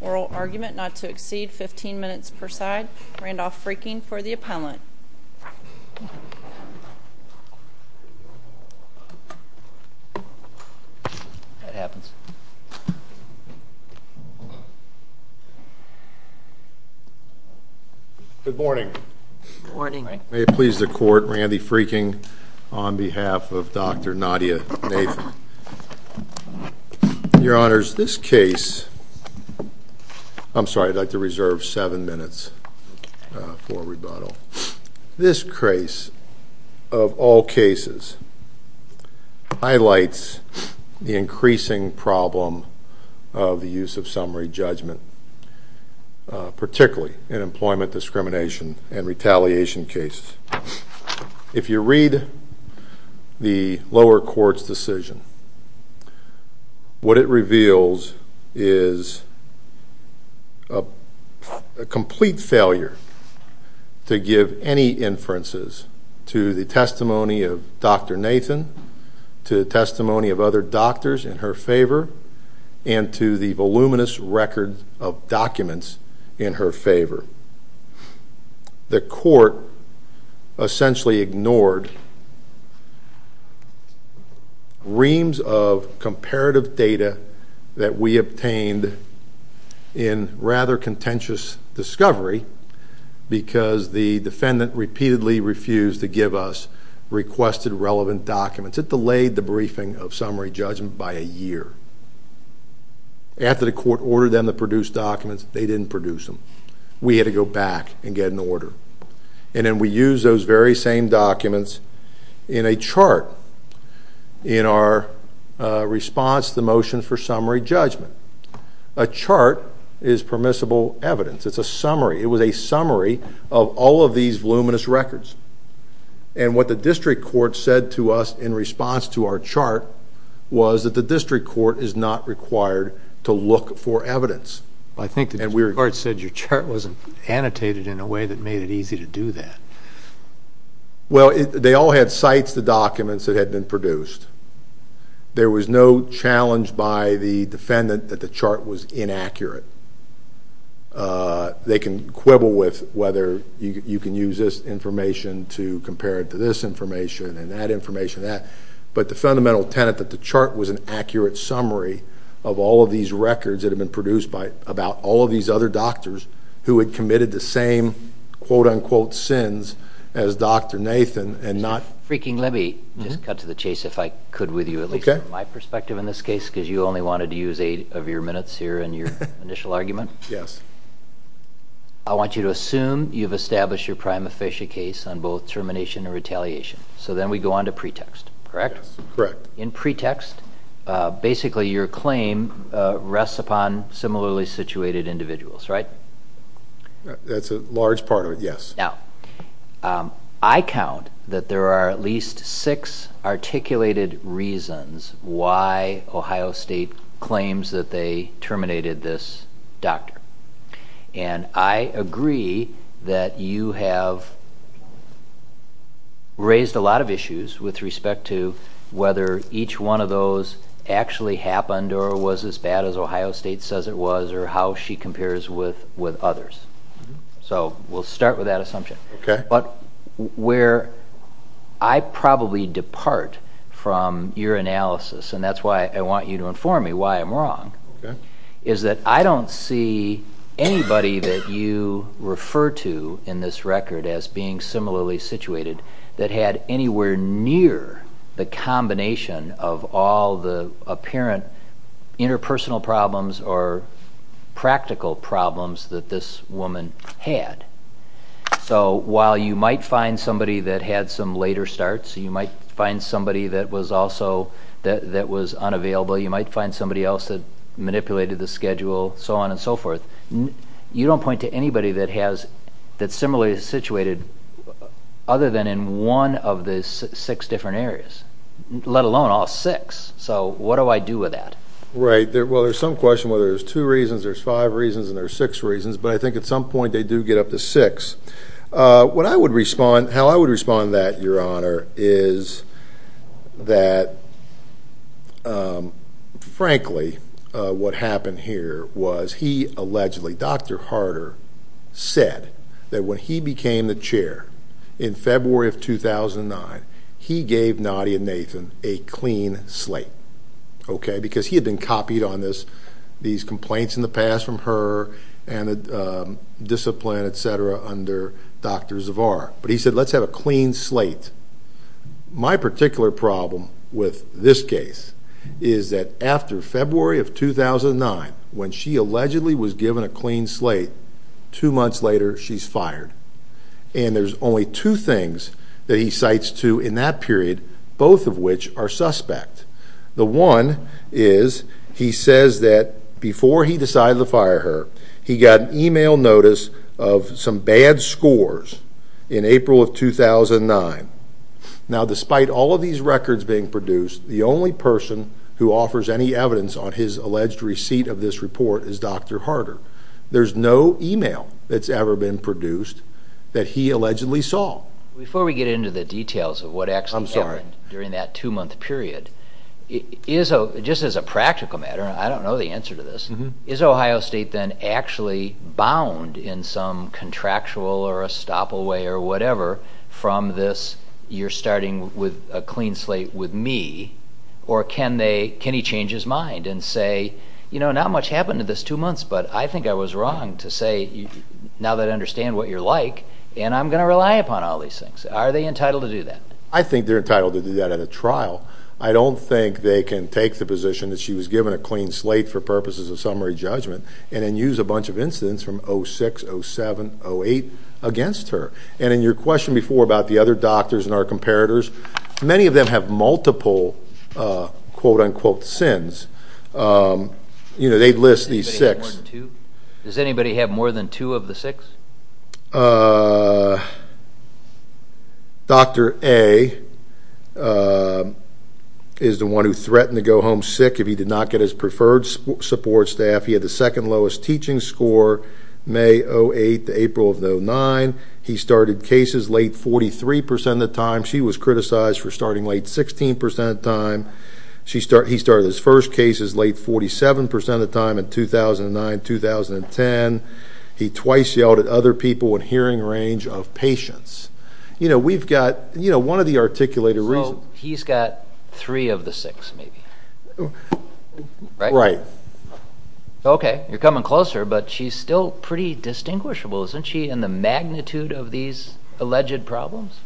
Oral argument not to exceed 15 minutes per side. Randolph Frieking for the appellant. That happens. Good morning. May it please the court, Randy Frieking on behalf of Dr. Nadia Nathan. Your Honors, this case, I'm sorry I'd like to reserve seven minutes for rebuttal. This case, of all cases, highlights the increasing problem of the use of summary judgment, particularly in employment discrimination and retaliation cases. If you read the lower court's decision, what it reveals is a complete failure to give any inferences to the testimony of Dr. Nathan, to the testimony of other doctors in her favor, and to the voluminous record of documents in her favor. The court essentially ignored reams of comparative data that we obtained in rather contentious discovery because the defendant repeatedly refused to give us requested relevant documents. It delayed the briefing of summary judgment by a year. After the court ordered them to produce documents, they didn't produce them. We had to go back and get an order. And then we used those very same documents in a chart in our response to the motion for summary judgment. A chart is permissible evidence. It's a summary. It was a summary of all of these voluminous records. And what the district court said to us in response to our chart was that the district court is not required to look for evidence. I think the district court said your chart wasn't annotated in a way that made it easy to do that. Well, they all had cites the documents that had been produced. There was no challenge by the defendant that the chart was inaccurate. They can quibble with whether you can use this information to compare it to this information and that information and that. But the fundamental tenet that the chart was an accurate summary of all of these records that have been produced by about all of these other doctors who had committed the same quote unquote sins as Dr. Nathan and not. Freaking let me just cut to the chase if I could with you. At least my perspective in this case, because you only wanted to use eight of your minutes here and your initial argument. Yes. I want you to assume you've established your prima facie case on both termination or retaliation. So then we go on to pretext. Correct. Correct. In pretext. Basically, your claim rests upon similarly situated individuals. Right. That's a large part of it. Yes. Now, I count that there are at least six articulated reasons why Ohio State claims that they terminated this doctor. And I agree that you have raised a lot of issues with respect to whether each one of those actually happened or was as bad as Ohio State says it was or how she compares with with others. So we'll start with that assumption. But where I probably depart from your analysis, and that's why I want you to inform me why I'm wrong, is that I don't see anybody that you refer to in this record as being similarly situated that had anywhere near the combination of all the apparent interpersonal problems or practical problems that this was. So while you might find somebody that had some later starts, you might find somebody that was unavailable, you might find somebody else that manipulated the schedule, so on and so forth. You don't point to anybody that's similarly situated other than in one of the six different areas, let alone all six. So what do I do with that? Right. Well, there's some question whether there's two reasons, there's five reasons, and there's six reasons. But I think at some point they do get up to six. How I would respond to that, Your Honor, is that, frankly, what happened here was he allegedly, Dr. Harder said that when he became the chair in February of 2009, he gave Nadia Nathan a clean slate. Okay? Because he had been copied on this, these complaints in the past from her and the discipline, et cetera, under Dr. Zavar. But he said, let's have a clean slate. My particular problem with this case is that after February of 2009, when she allegedly was given a clean slate, two months later she's fired. And there's only two things that he cites to in that period, both of which are suspect. The one is he says that before he decided to fire her, he got an email notice of some bad scores in April of 2009. Now, despite all of these records being produced, the only person who offers any evidence on his alleged receipt of this report is Dr. Harder. There's no email that's ever been produced that he allegedly saw. Before we get into the details of what actually happened during that two-month period, just as a practical matter, and I don't know the answer to this, is Ohio State then actually bound in some contractual or estoppel way or whatever from this, you're starting with a clean slate with me? Or can they, can he change his mind and say, you know, not much happened to this two months, but I think I was wrong to say, now that I understand what you're like, and I'm going to rely upon all these things. Are they entitled to do that? I think they're entitled to do that at a trial. I don't think they can take the position that she was given a clean slate for purposes of summary judgment and then use a bunch of incidents from 06, 07, 08 against her. And in your question before about the other doctors and our comparators, many of them have multiple quote-unquote sins. You know, they list these six. Does anybody have more than two of the six? Dr. A is the one who threatened to go home sick if he did not get his preferred support staff. He had the second lowest teaching score, May 08 to April of 09. He started cases late 43% of the time. She was criticized for starting late 16% of the time. He started his first cases late 47% of the time in 2009, 2010. He twice yelled at other people in hearing range of patients. You know, we've got, you know, one of the articulated reasons. So he's got three of the six, maybe. Right? Right. Okay. You're coming closer, but she's still pretty distinguishable, isn't she, in the magnitude of these alleged problems?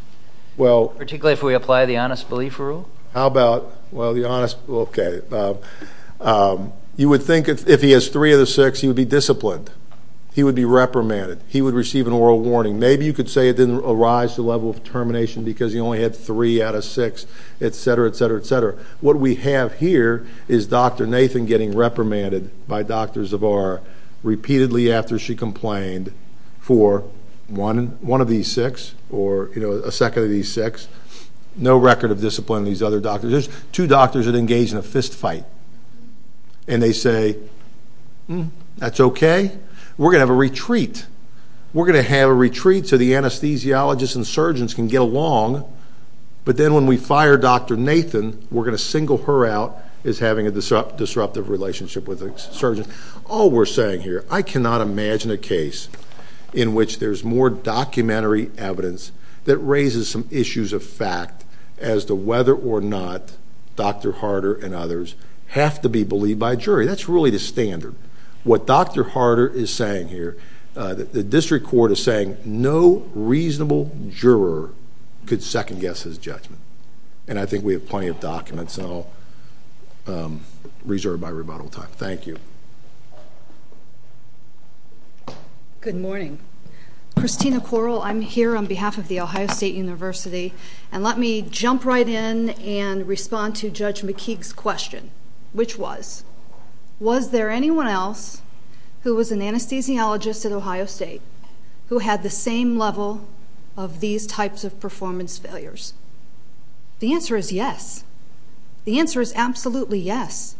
Particularly if we apply the honest belief rule? How about, well, the honest, okay. You would think if he has three of the six, he would be disciplined. He would be reprimanded. He would receive an oral warning. Maybe you could say it didn't arise to the level of termination because he only had three out of six, et cetera, et cetera, et cetera. What we have here is Dr. Nathan getting reprimanded by Dr. Zavar repeatedly after she complained for one of these six or, you know, a second of these six. No record of discipline in these other doctors. There's two doctors that engage in a fist fight, and they say, hmm, that's okay. We're going to have a retreat. We're going to have a retreat so the anesthesiologists and surgeons can get along. But then when we fire Dr. Nathan, we're going to single her out as having a disruptive relationship with a surgeon. All we're saying here, I cannot imagine a case in which there's more documentary evidence that raises some issues of fact as to whether or not Dr. Harder and others have to be believed by a jury. That's really the standard. What Dr. Harder is saying here, the district court is saying no reasonable juror could second-guess his judgment. And I think we have plenty of documents, and I'll reserve my rebuttal time. Thank you. Good morning. Christina Correll. I'm here on behalf of The Ohio State University. And let me jump right in and respond to Judge McKeague's question, which was, was there anyone else who was an anesthesiologist at Ohio State who had the same level of these types of performance failures? The answer is yes. The answer is absolutely yes.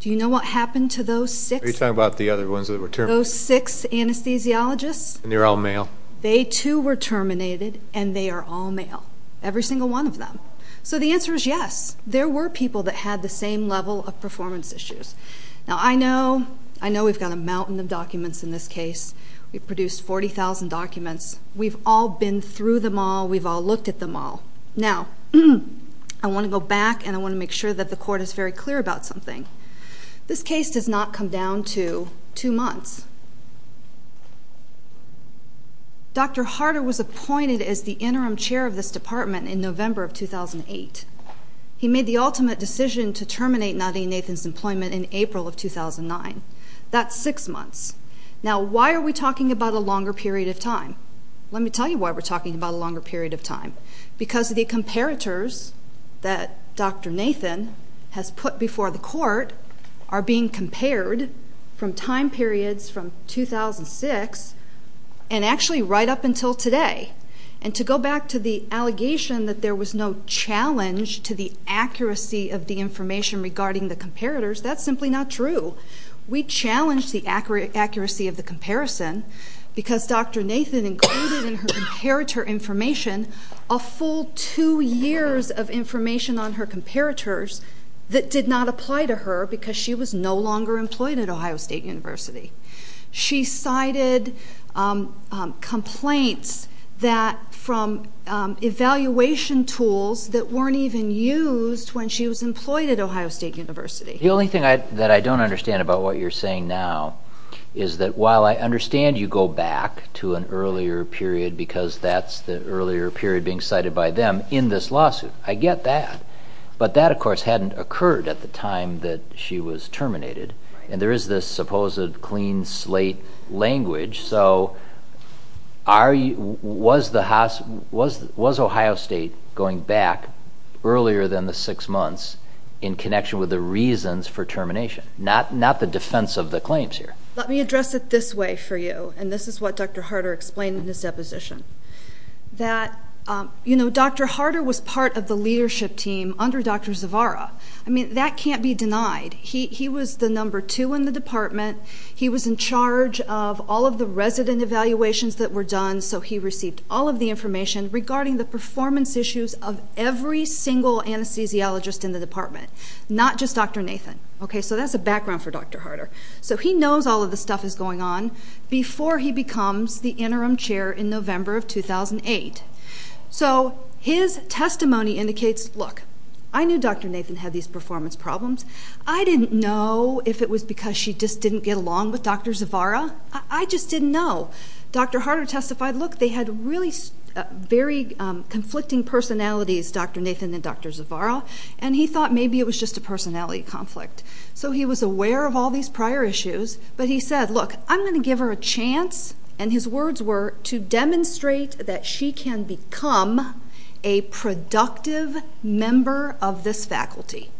Do you know what happened to those six? Are you talking about the other ones that were terminated? Those six anesthesiologists? And they're all male. They, too, were terminated, and they are all male, every single one of them. So the answer is yes. There were people that had the same level of performance issues. Now, I know we've got a mountain of documents in this case. We've produced 40,000 documents. We've all been through them all. We've all looked at them all. Now, I want to go back, and I want to make sure that the Court is very clear about something. This case does not come down to two months. Dr. Harder was appointed as the interim chair of this department in November of 2008. He made the ultimate decision to terminate Nadia Nathan's employment in April of 2009. That's six months. Now, why are we talking about a longer period of time? Let me tell you why we're talking about a longer period of time. Because the comparators that Dr. Nathan has put before the Court are being compared from time periods from 2006 and actually right up until today. And to go back to the allegation that there was no challenge to the accuracy of the information regarding the comparators, that's simply not true. We challenged the accuracy of the comparison because Dr. Nathan included in her comparator information a full two years of information on her comparators that did not apply to her because she was no longer employed at Ohio State University. She cited complaints from evaluation tools that weren't even used when she was employed at Ohio State University. The only thing that I don't understand about what you're saying now is that while I understand you go back to an earlier period because that's the earlier period being cited by them in this lawsuit. I get that. But that, of course, hadn't occurred at the time that she was terminated. And there is this supposed clean slate language. So was Ohio State going back earlier than the six months in connection with the reasons for termination? Not the defense of the claims here. Let me address it this way for you, and this is what Dr. Harder explained in his deposition. Dr. Harder was part of the leadership team under Dr. Zavara. I mean, that can't be denied. He was the number two in the department. He was in charge of all of the resident evaluations that were done, so he received all of the information regarding the performance issues of every single anesthesiologist in the department, not just Dr. Nathan. So that's a background for Dr. Harder. So he knows all of this stuff is going on before he becomes the interim chair in November of 2008. So his testimony indicates, look, I knew Dr. Nathan had these performance problems. I didn't know if it was because she just didn't get along with Dr. Zavara. I just didn't know. Dr. Harder testified, look, they had really very conflicting personalities, Dr. Nathan and Dr. Zavara, and he thought maybe it was just a personality conflict. So he was aware of all these prior issues, but he said, look, I'm going to give her a chance, and his words were to demonstrate that she can become a productive member of this faculty.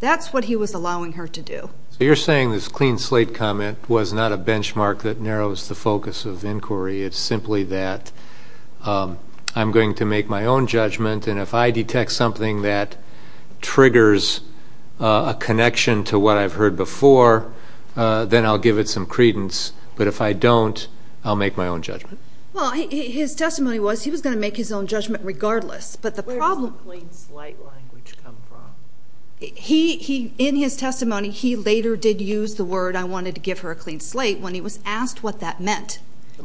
That's what he was allowing her to do. So you're saying this clean slate comment was not a benchmark that narrows the focus of inquiry. It's simply that I'm going to make my own judgment, and if I detect something that triggers a connection to what I've heard before, then I'll give it some credence. But if I don't, I'll make my own judgment. Well, his testimony was he was going to make his own judgment regardless. Where does the clean slate language come from? In his testimony, he later did use the word, I wanted to give her a clean slate when he was asked what that meant.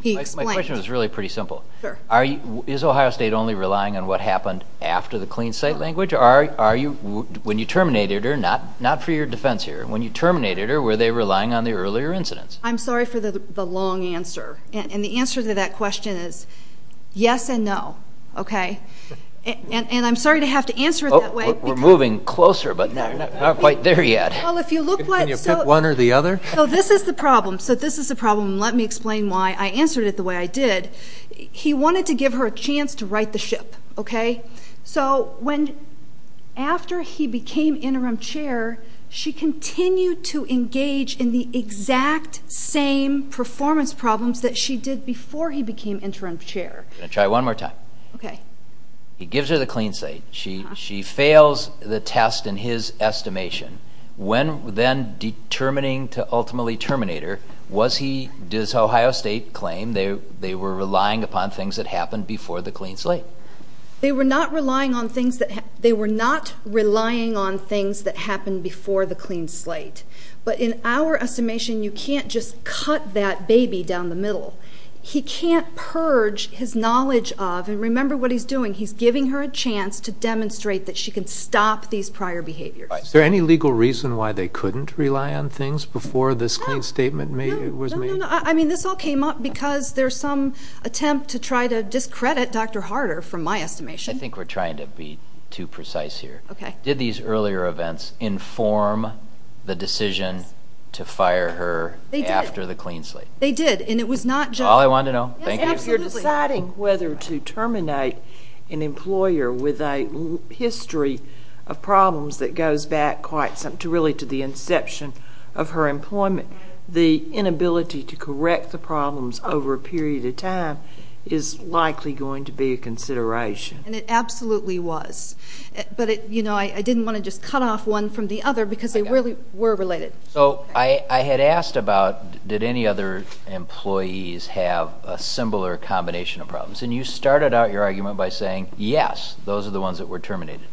My question was really pretty simple. Is Ohio State only relying on what happened after the clean slate language? When you terminated her, not for your defense here, when you terminated her, were they relying on the earlier incidents? I'm sorry for the long answer. And the answer to that question is yes and no. And I'm sorry to have to answer it that way. We're moving closer, but not quite there yet. Can you pick one or the other? So this is the problem. Let me explain why I answered it the way I did. He wanted to give her a chance to right the ship. So after he became interim chair, she continued to engage in the exact same performance problems that she did before he became interim chair. I'm going to try one more time. He gives her the clean slate. She fails the test in his estimation. When then determining to ultimately terminate her, was he, does Ohio State claim they were relying upon things that happened before the clean slate? They were not relying on things that happened before the clean slate. But in our estimation, you can't just cut that baby down the middle. He can't purge his knowledge of, and remember what he's doing, he's giving her a chance to demonstrate that she can stop these prior behaviors. Is there any legal reason why they couldn't rely on things before this clean statement was made? No, no, no. I mean, this all came up because there's some attempt to try to discredit Dr. Harder from my estimation. I think we're trying to be too precise here. Okay. Did these earlier events inform the decision to fire her after the clean slate? They did, and it was not just— Is that all I wanted to know? Yes, absolutely. You're deciding whether to terminate an employer with a history of problems that goes back quite some, really to the inception of her employment. The inability to correct the problems over a period of time is likely going to be a consideration. And it absolutely was. But, you know, I didn't want to just cut off one from the other because they really were related. So I had asked about did any other employees have a similar combination of problems, and you started out your argument by saying, yes, those are the ones that were terminated.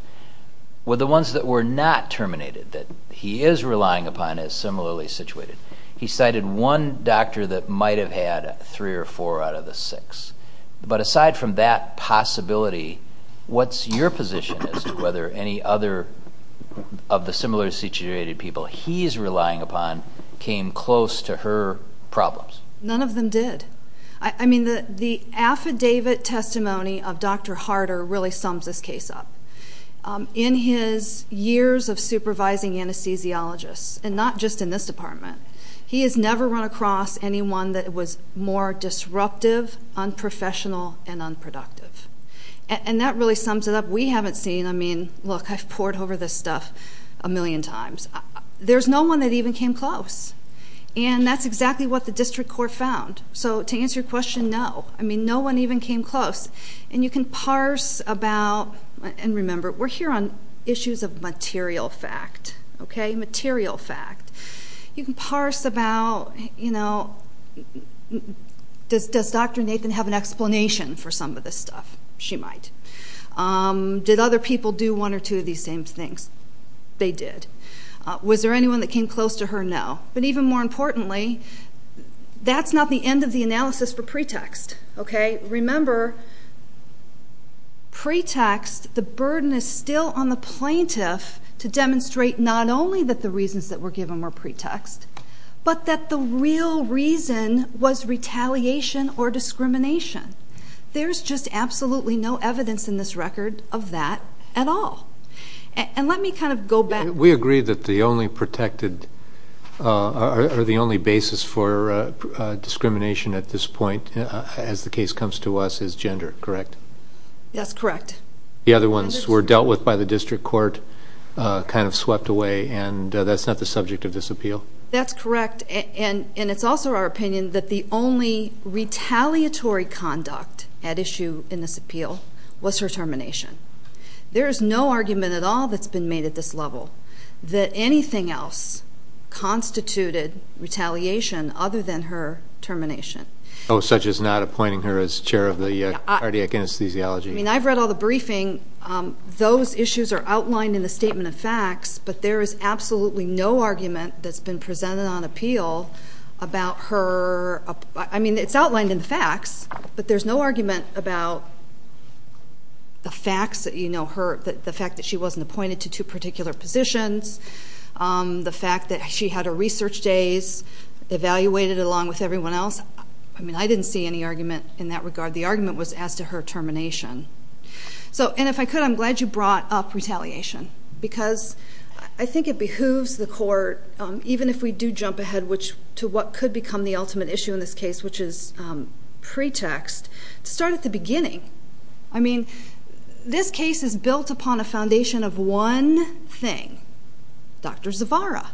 Were the ones that were not terminated that he is relying upon as similarly situated? He cited one doctor that might have had three or four out of the six. But aside from that possibility, what's your position as to whether any other of the similarly situated people he's relying upon came close to her problems? None of them did. I mean, the affidavit testimony of Dr. Harder really sums this case up. In his years of supervising anesthesiologists, and not just in this department, he has never run across anyone that was more disruptive, unprofessional, and unproductive. And that really sums it up. We haven't seen, I mean, look, I've poured over this stuff a million times. There's no one that even came close. And that's exactly what the district court found. So to answer your question, no. I mean, no one even came close. And you can parse about, and remember, we're here on issues of material fact, okay, material fact. You can parse about, you know, does Dr. Nathan have an explanation for some of this stuff? She might. Did other people do one or two of these same things? They did. Was there anyone that came close to her? No. But even more importantly, that's not the end of the analysis for pretext, okay? Remember, pretext, the burden is still on the plaintiff to demonstrate not only that the reasons that were given were pretext, but that the real reason was retaliation or discrimination. There's just absolutely no evidence in this record of that at all. And let me kind of go back. We agree that the only protected or the only basis for discrimination at this point, as the case comes to us, is gender, correct? That's correct. The other ones were dealt with by the district court, kind of swept away, and that's not the subject of this appeal. That's correct. And it's also our opinion that the only retaliatory conduct at issue in this appeal was her termination. There is no argument at all that's been made at this level that anything else constituted retaliation other than her termination. Oh, such as not appointing her as chair of the cardiac anesthesiology. I mean, I've read all the briefing. Those issues are outlined in the statement of facts, but there is absolutely no argument that's been presented on appeal about her. I mean, it's outlined in the facts, but there's no argument about the facts, the fact that she wasn't appointed to two particular positions, the fact that she had her research days evaluated along with everyone else. I mean, I didn't see any argument in that regard. The argument was as to her termination. And if I could, I'm glad you brought up retaliation because I think it behooves the court, even if we do jump ahead to what could become the ultimate issue in this case, which is pretext, to start at the beginning. I mean, this case is built upon a foundation of one thing, Dr. Zavara.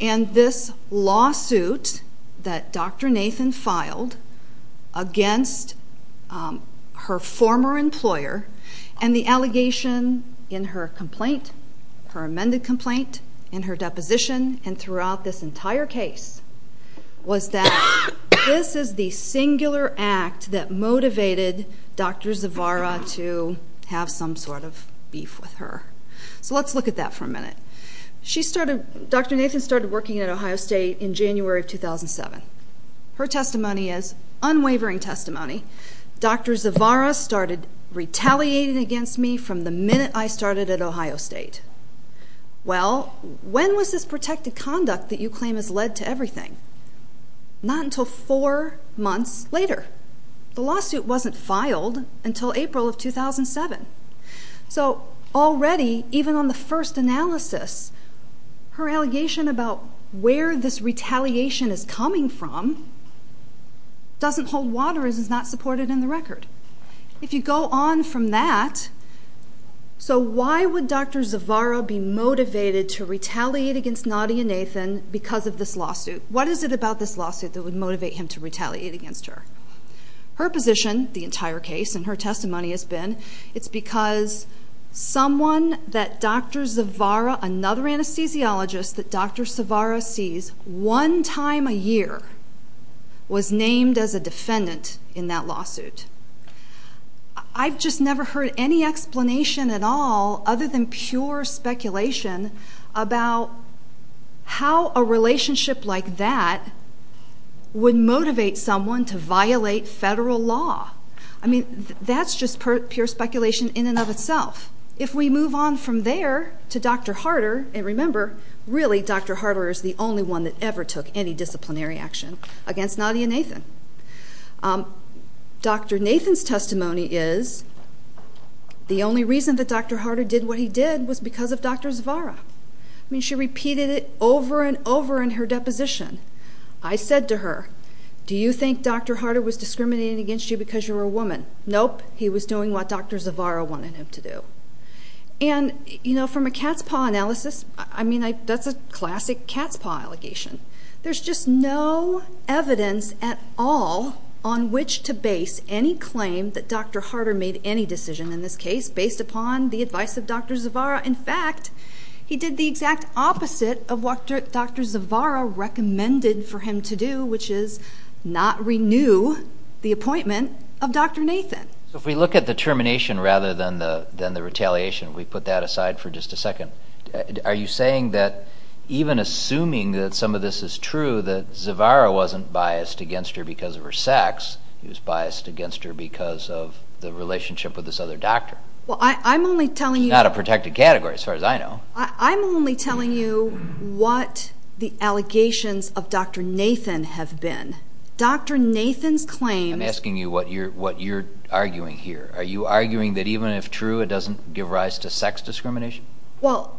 And this lawsuit that Dr. Nathan filed against her former employer and the allegation in her complaint, her amended complaint, in her deposition, and throughout this entire case, was that this is the singular act that motivated Dr. Zavara to have some sort of beef with her. So let's look at that for a minute. Dr. Nathan started working at Ohio State in January of 2007. Her testimony is unwavering testimony. Dr. Zavara started retaliating against me from the minute I started at Ohio State. Well, when was this protected conduct that you claim has led to everything? Not until four months later. The lawsuit wasn't filed until April of 2007. So already, even on the first analysis, her allegation about where this retaliation is coming from doesn't hold water, it is not supported in the record. If you go on from that, so why would Dr. Zavara be motivated to retaliate against Nadia Nathan because of this lawsuit? What is it about this lawsuit that would motivate him to retaliate against her? Her position, the entire case, and her testimony has been it's because someone that Dr. Zavara, another anesthesiologist that Dr. Zavara sees one time a year, was named as a defendant in that lawsuit. I've just never heard any explanation at all, other than pure speculation, about how a relationship like that would motivate someone to violate federal law. I mean, that's just pure speculation in and of itself. If we move on from there to Dr. Harder, and remember, really, Dr. Harder is the only one that ever took any disciplinary action against Nadia Nathan. Dr. Nathan's testimony is the only reason that Dr. Harder did what he did was because of Dr. Zavara. I mean, she repeated it over and over in her deposition. I said to her, do you think Dr. Harder was discriminating against you because you're a woman? Nope, he was doing what Dr. Zavara wanted him to do. And, you know, from a cat's paw analysis, I mean, that's a classic cat's paw allegation. There's just no evidence at all on which to base any claim that Dr. Harder made any decision, in this case, based upon the advice of Dr. Zavara. In fact, he did the exact opposite of what Dr. Zavara recommended for him to do, which is not renew the appointment of Dr. Nathan. So if we look at the termination rather than the retaliation, we put that aside for just a second. Are you saying that even assuming that some of this is true, that Zavara wasn't biased against her because of her sex, he was biased against her because of the relationship with this other doctor? Well, I'm only telling you... Not a protected category, as far as I know. I'm only telling you what the allegations of Dr. Nathan have been. Dr. Nathan's claims... I'm asking you what you're arguing here. Are you arguing that even if true, it doesn't give rise to sex discrimination? Well,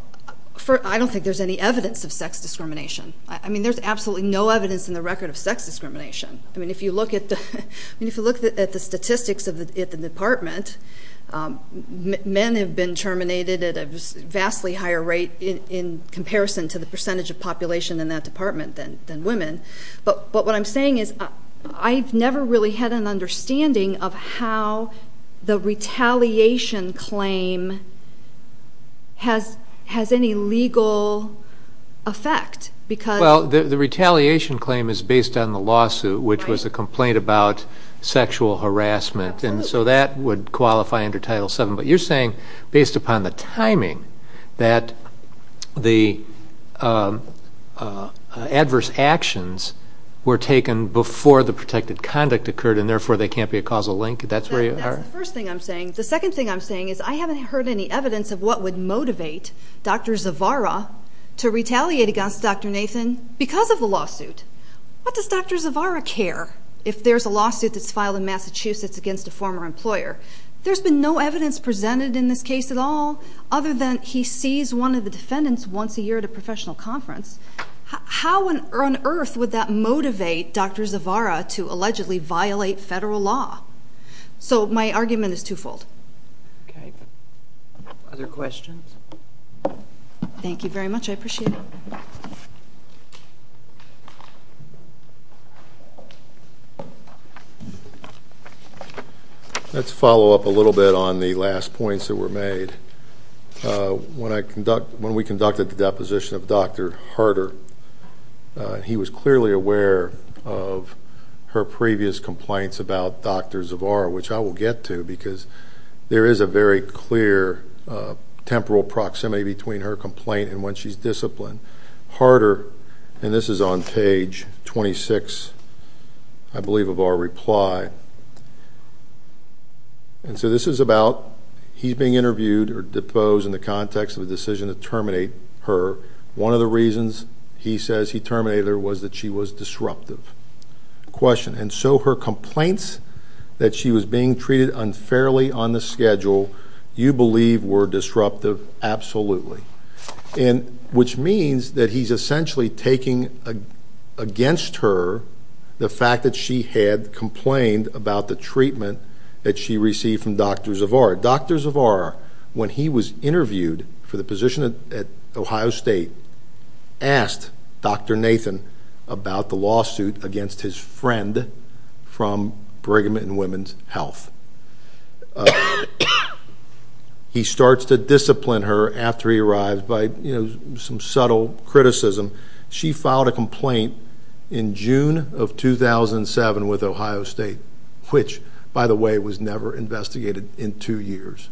I don't think there's any evidence of sex discrimination. I mean, there's absolutely no evidence in the record of sex discrimination. I mean, if you look at the statistics at the department, men have been terminated at a vastly higher rate in comparison to the percentage of population in that department than women. But what I'm saying is I've never really had an understanding of how the retaliation claim has any legal effect because... Well, the retaliation claim is based on the lawsuit, which was a complaint about sexual harassment. And so that would qualify under Title VII. But you're saying, based upon the timing, that the adverse actions were taken before the protected conduct occurred, and therefore they can't be a causal link? That's where you are? That's the first thing I'm saying. The second thing I'm saying is I haven't heard any evidence of what would motivate Dr. Zavara to retaliate against Dr. Nathan because of the lawsuit. What does Dr. Zavara care if there's a lawsuit that's filed in Massachusetts against a former employer? There's been no evidence presented in this case at all other than he sees one of the defendants once a year at a professional conference. How on earth would that motivate Dr. Zavara to allegedly violate federal law? So my argument is twofold. Okay. Other questions? Thank you very much. I appreciate it. Let's follow up a little bit on the last points that were made. When we conducted the deposition of Dr. Harder, he was clearly aware of her previous complaints about Dr. Zavara, which I will get to because there is a very clear temporal proximity between her complaint and when she's disciplined. Harder, and this is on page 26, I believe, of our reply. And so this is about he's being interviewed or deposed in the context of a decision to terminate her. One of the reasons he says he terminated her was that she was disruptive. Question. And so her complaints that she was being treated unfairly on the schedule you believe were disruptive? Absolutely. And which means that he's essentially taking against her the fact that she had complained about the treatment that she received from Dr. Zavara. Dr. Zavara, when he was interviewed for the position at Ohio State, asked Dr. Nathan about the lawsuit against his friend from Brigham and Women's Health. He starts to discipline her after he arrives by, you know, some subtle criticism. She filed a complaint in June of 2007 with Ohio State, which, by the way, was never investigated in two years.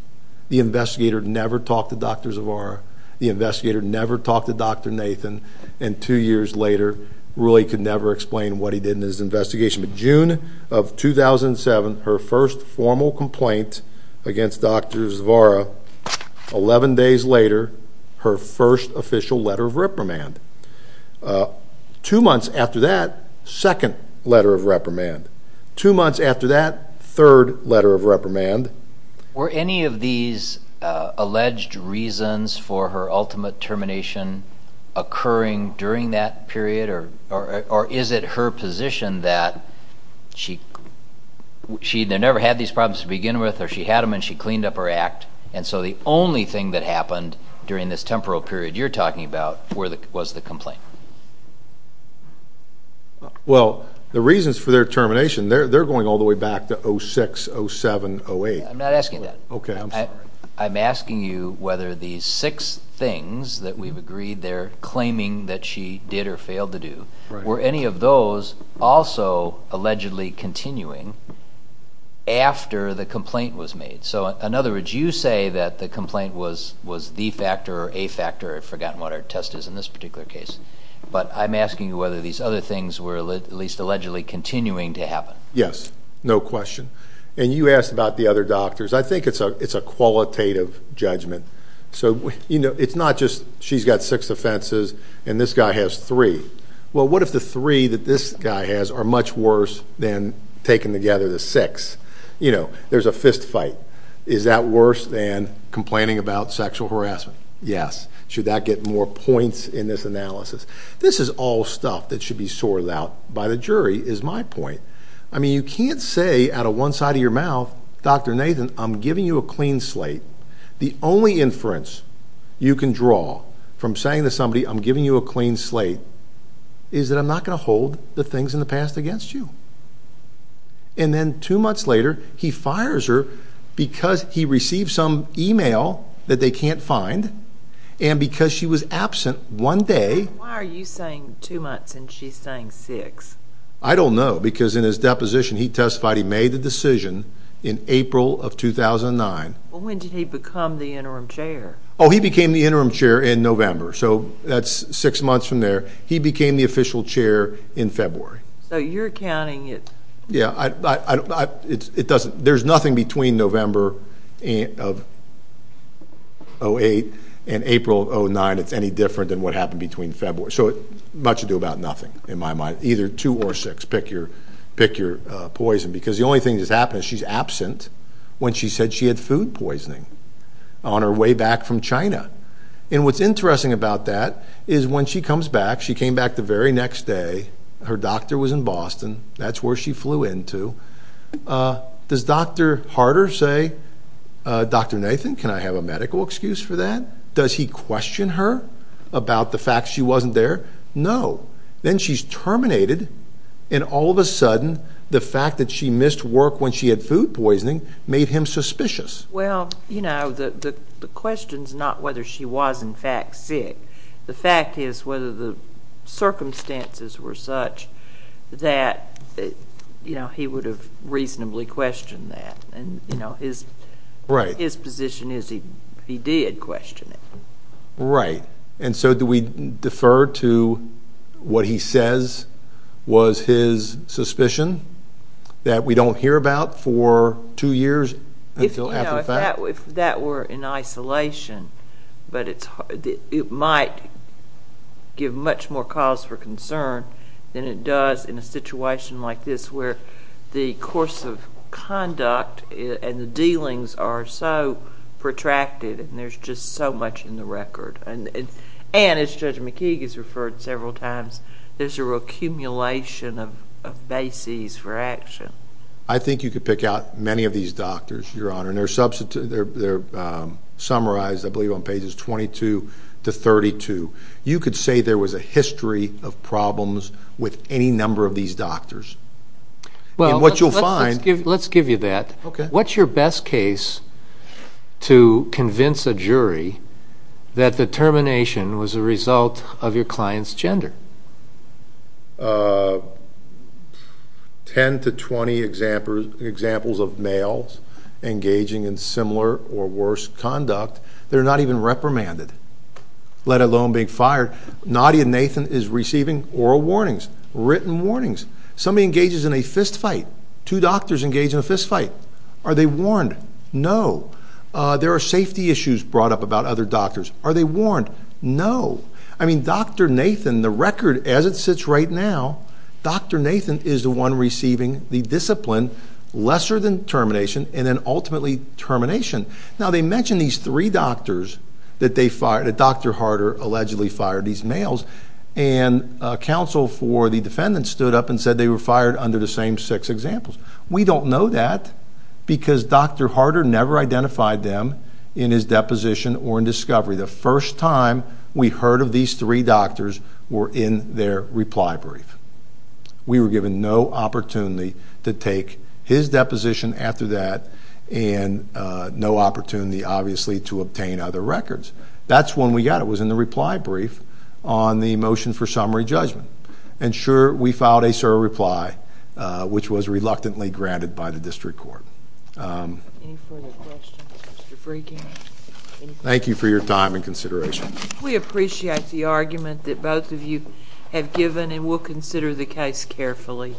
The investigator never talked to Dr. Zavara. The investigator never talked to Dr. Nathan, and two years later really could never explain what he did in his investigation. But June of 2007, her first formal complaint against Dr. Zavara, 11 days later, her first official letter of reprimand. Two months after that, second letter of reprimand. Two months after that, third letter of reprimand. Were any of these alleged reasons for her ultimate termination occurring during that period, or is it her position that she never had these problems to begin with, or she had them and she cleaned up her act, and so the only thing that happened during this temporal period you're talking about was the complaint? Well, the reasons for their termination, they're going all the way back to 06, 07, 08. I'm not asking that. Okay, I'm sorry. I'm asking you whether these six things that we've agreed they're claiming that she did or failed to do, were any of those also allegedly continuing after the complaint was made? So, in other words, you say that the complaint was the factor or a factor, I've forgotten what our test is in this particular case, but I'm asking you whether these other things were at least allegedly continuing to happen. Yes, no question. And you asked about the other doctors. I think it's a qualitative judgment. So, you know, it's not just she's got six offenses and this guy has three. Well, what if the three that this guy has are much worse than taking together the six? You know, there's a fist fight. Is that worse than complaining about sexual harassment? Yes. Should that get more points in this analysis? This is all stuff that should be sorted out by the jury, is my point. I mean, you can't say out of one side of your mouth, Dr. Nathan, I'm giving you a clean slate. The only inference you can draw from saying to somebody, I'm giving you a clean slate, is that I'm not going to hold the things in the past against you. And then two months later he fires her because he received some e-mail that they can't find and because she was absent one day. Why are you saying two months and she's saying six? I don't know, because in his deposition he testified he made the decision in April of 2009. When did he become the interim chair? Oh, he became the interim chair in November, so that's six months from there. He became the official chair in February. So you're counting it. Yeah, it doesn't. There's nothing between November of 2008 and April of 2009 that's any different than what happened between February. So much to do about nothing in my mind, either two or six, pick your poison, because the only thing that's happened is she's absent when she said she had food poisoning on her way back from China. And what's interesting about that is when she comes back, she came back the very next day, her doctor was in Boston, that's where she flew into. Does Dr. Harder say, Dr. Nathan, can I have a medical excuse for that? Does he question her about the fact she wasn't there? No. Then she's terminated and all of a sudden the fact that she missed work when she had food poisoning made him suspicious. Well, you know, the question's not whether she was in fact sick. The fact is whether the circumstances were such that he would have reasonably questioned that. And his position is he did question it. Right. And so do we defer to what he says was his suspicion that we don't hear about for two years until after the fact? If that were in isolation, but it might give much more cause for concern than it does in a situation like this where the course of conduct and the dealings are so protracted and there's just so much in the record. And as Judge McKee has referred several times, there's a recumulation of bases for action. I think you could pick out many of these doctors, Your Honor. And they're summarized, I believe, on pages 22 to 32. You could say there was a history of problems with any number of these doctors. Well, let's give you that. What's your best case to convince a jury that the termination was a result of your client's gender? Ten to 20 examples of males engaging in similar or worse conduct that are not even reprimanded, let alone being fired. Nadia Nathan is receiving oral warnings, written warnings. Somebody engages in a fistfight. Two doctors engage in a fistfight. Are they warned? No. There are safety issues brought up about other doctors. Are they warned? No. I mean, Dr. Nathan, the record as it sits right now, Dr. Nathan is the one receiving the discipline lesser than termination and then ultimately termination. Now, they mention these three doctors that Dr. Harder allegedly fired, these males, and counsel for the defendant stood up and said they were fired under the same six examples. We don't know that because Dr. Harder never identified them in his deposition or in discovery. The first time we heard of these three doctors were in their reply brief. We were given no opportunity to take his deposition after that and no opportunity, obviously, to obtain other records. That's when we got it. It was in the reply brief on the motion for summary judgment. And, sure, we filed a SIR reply, which was reluctantly granted by the district court. Any further questions? Thank you for your time and consideration. We appreciate the argument that both of you have given, and we'll consider the case carefully.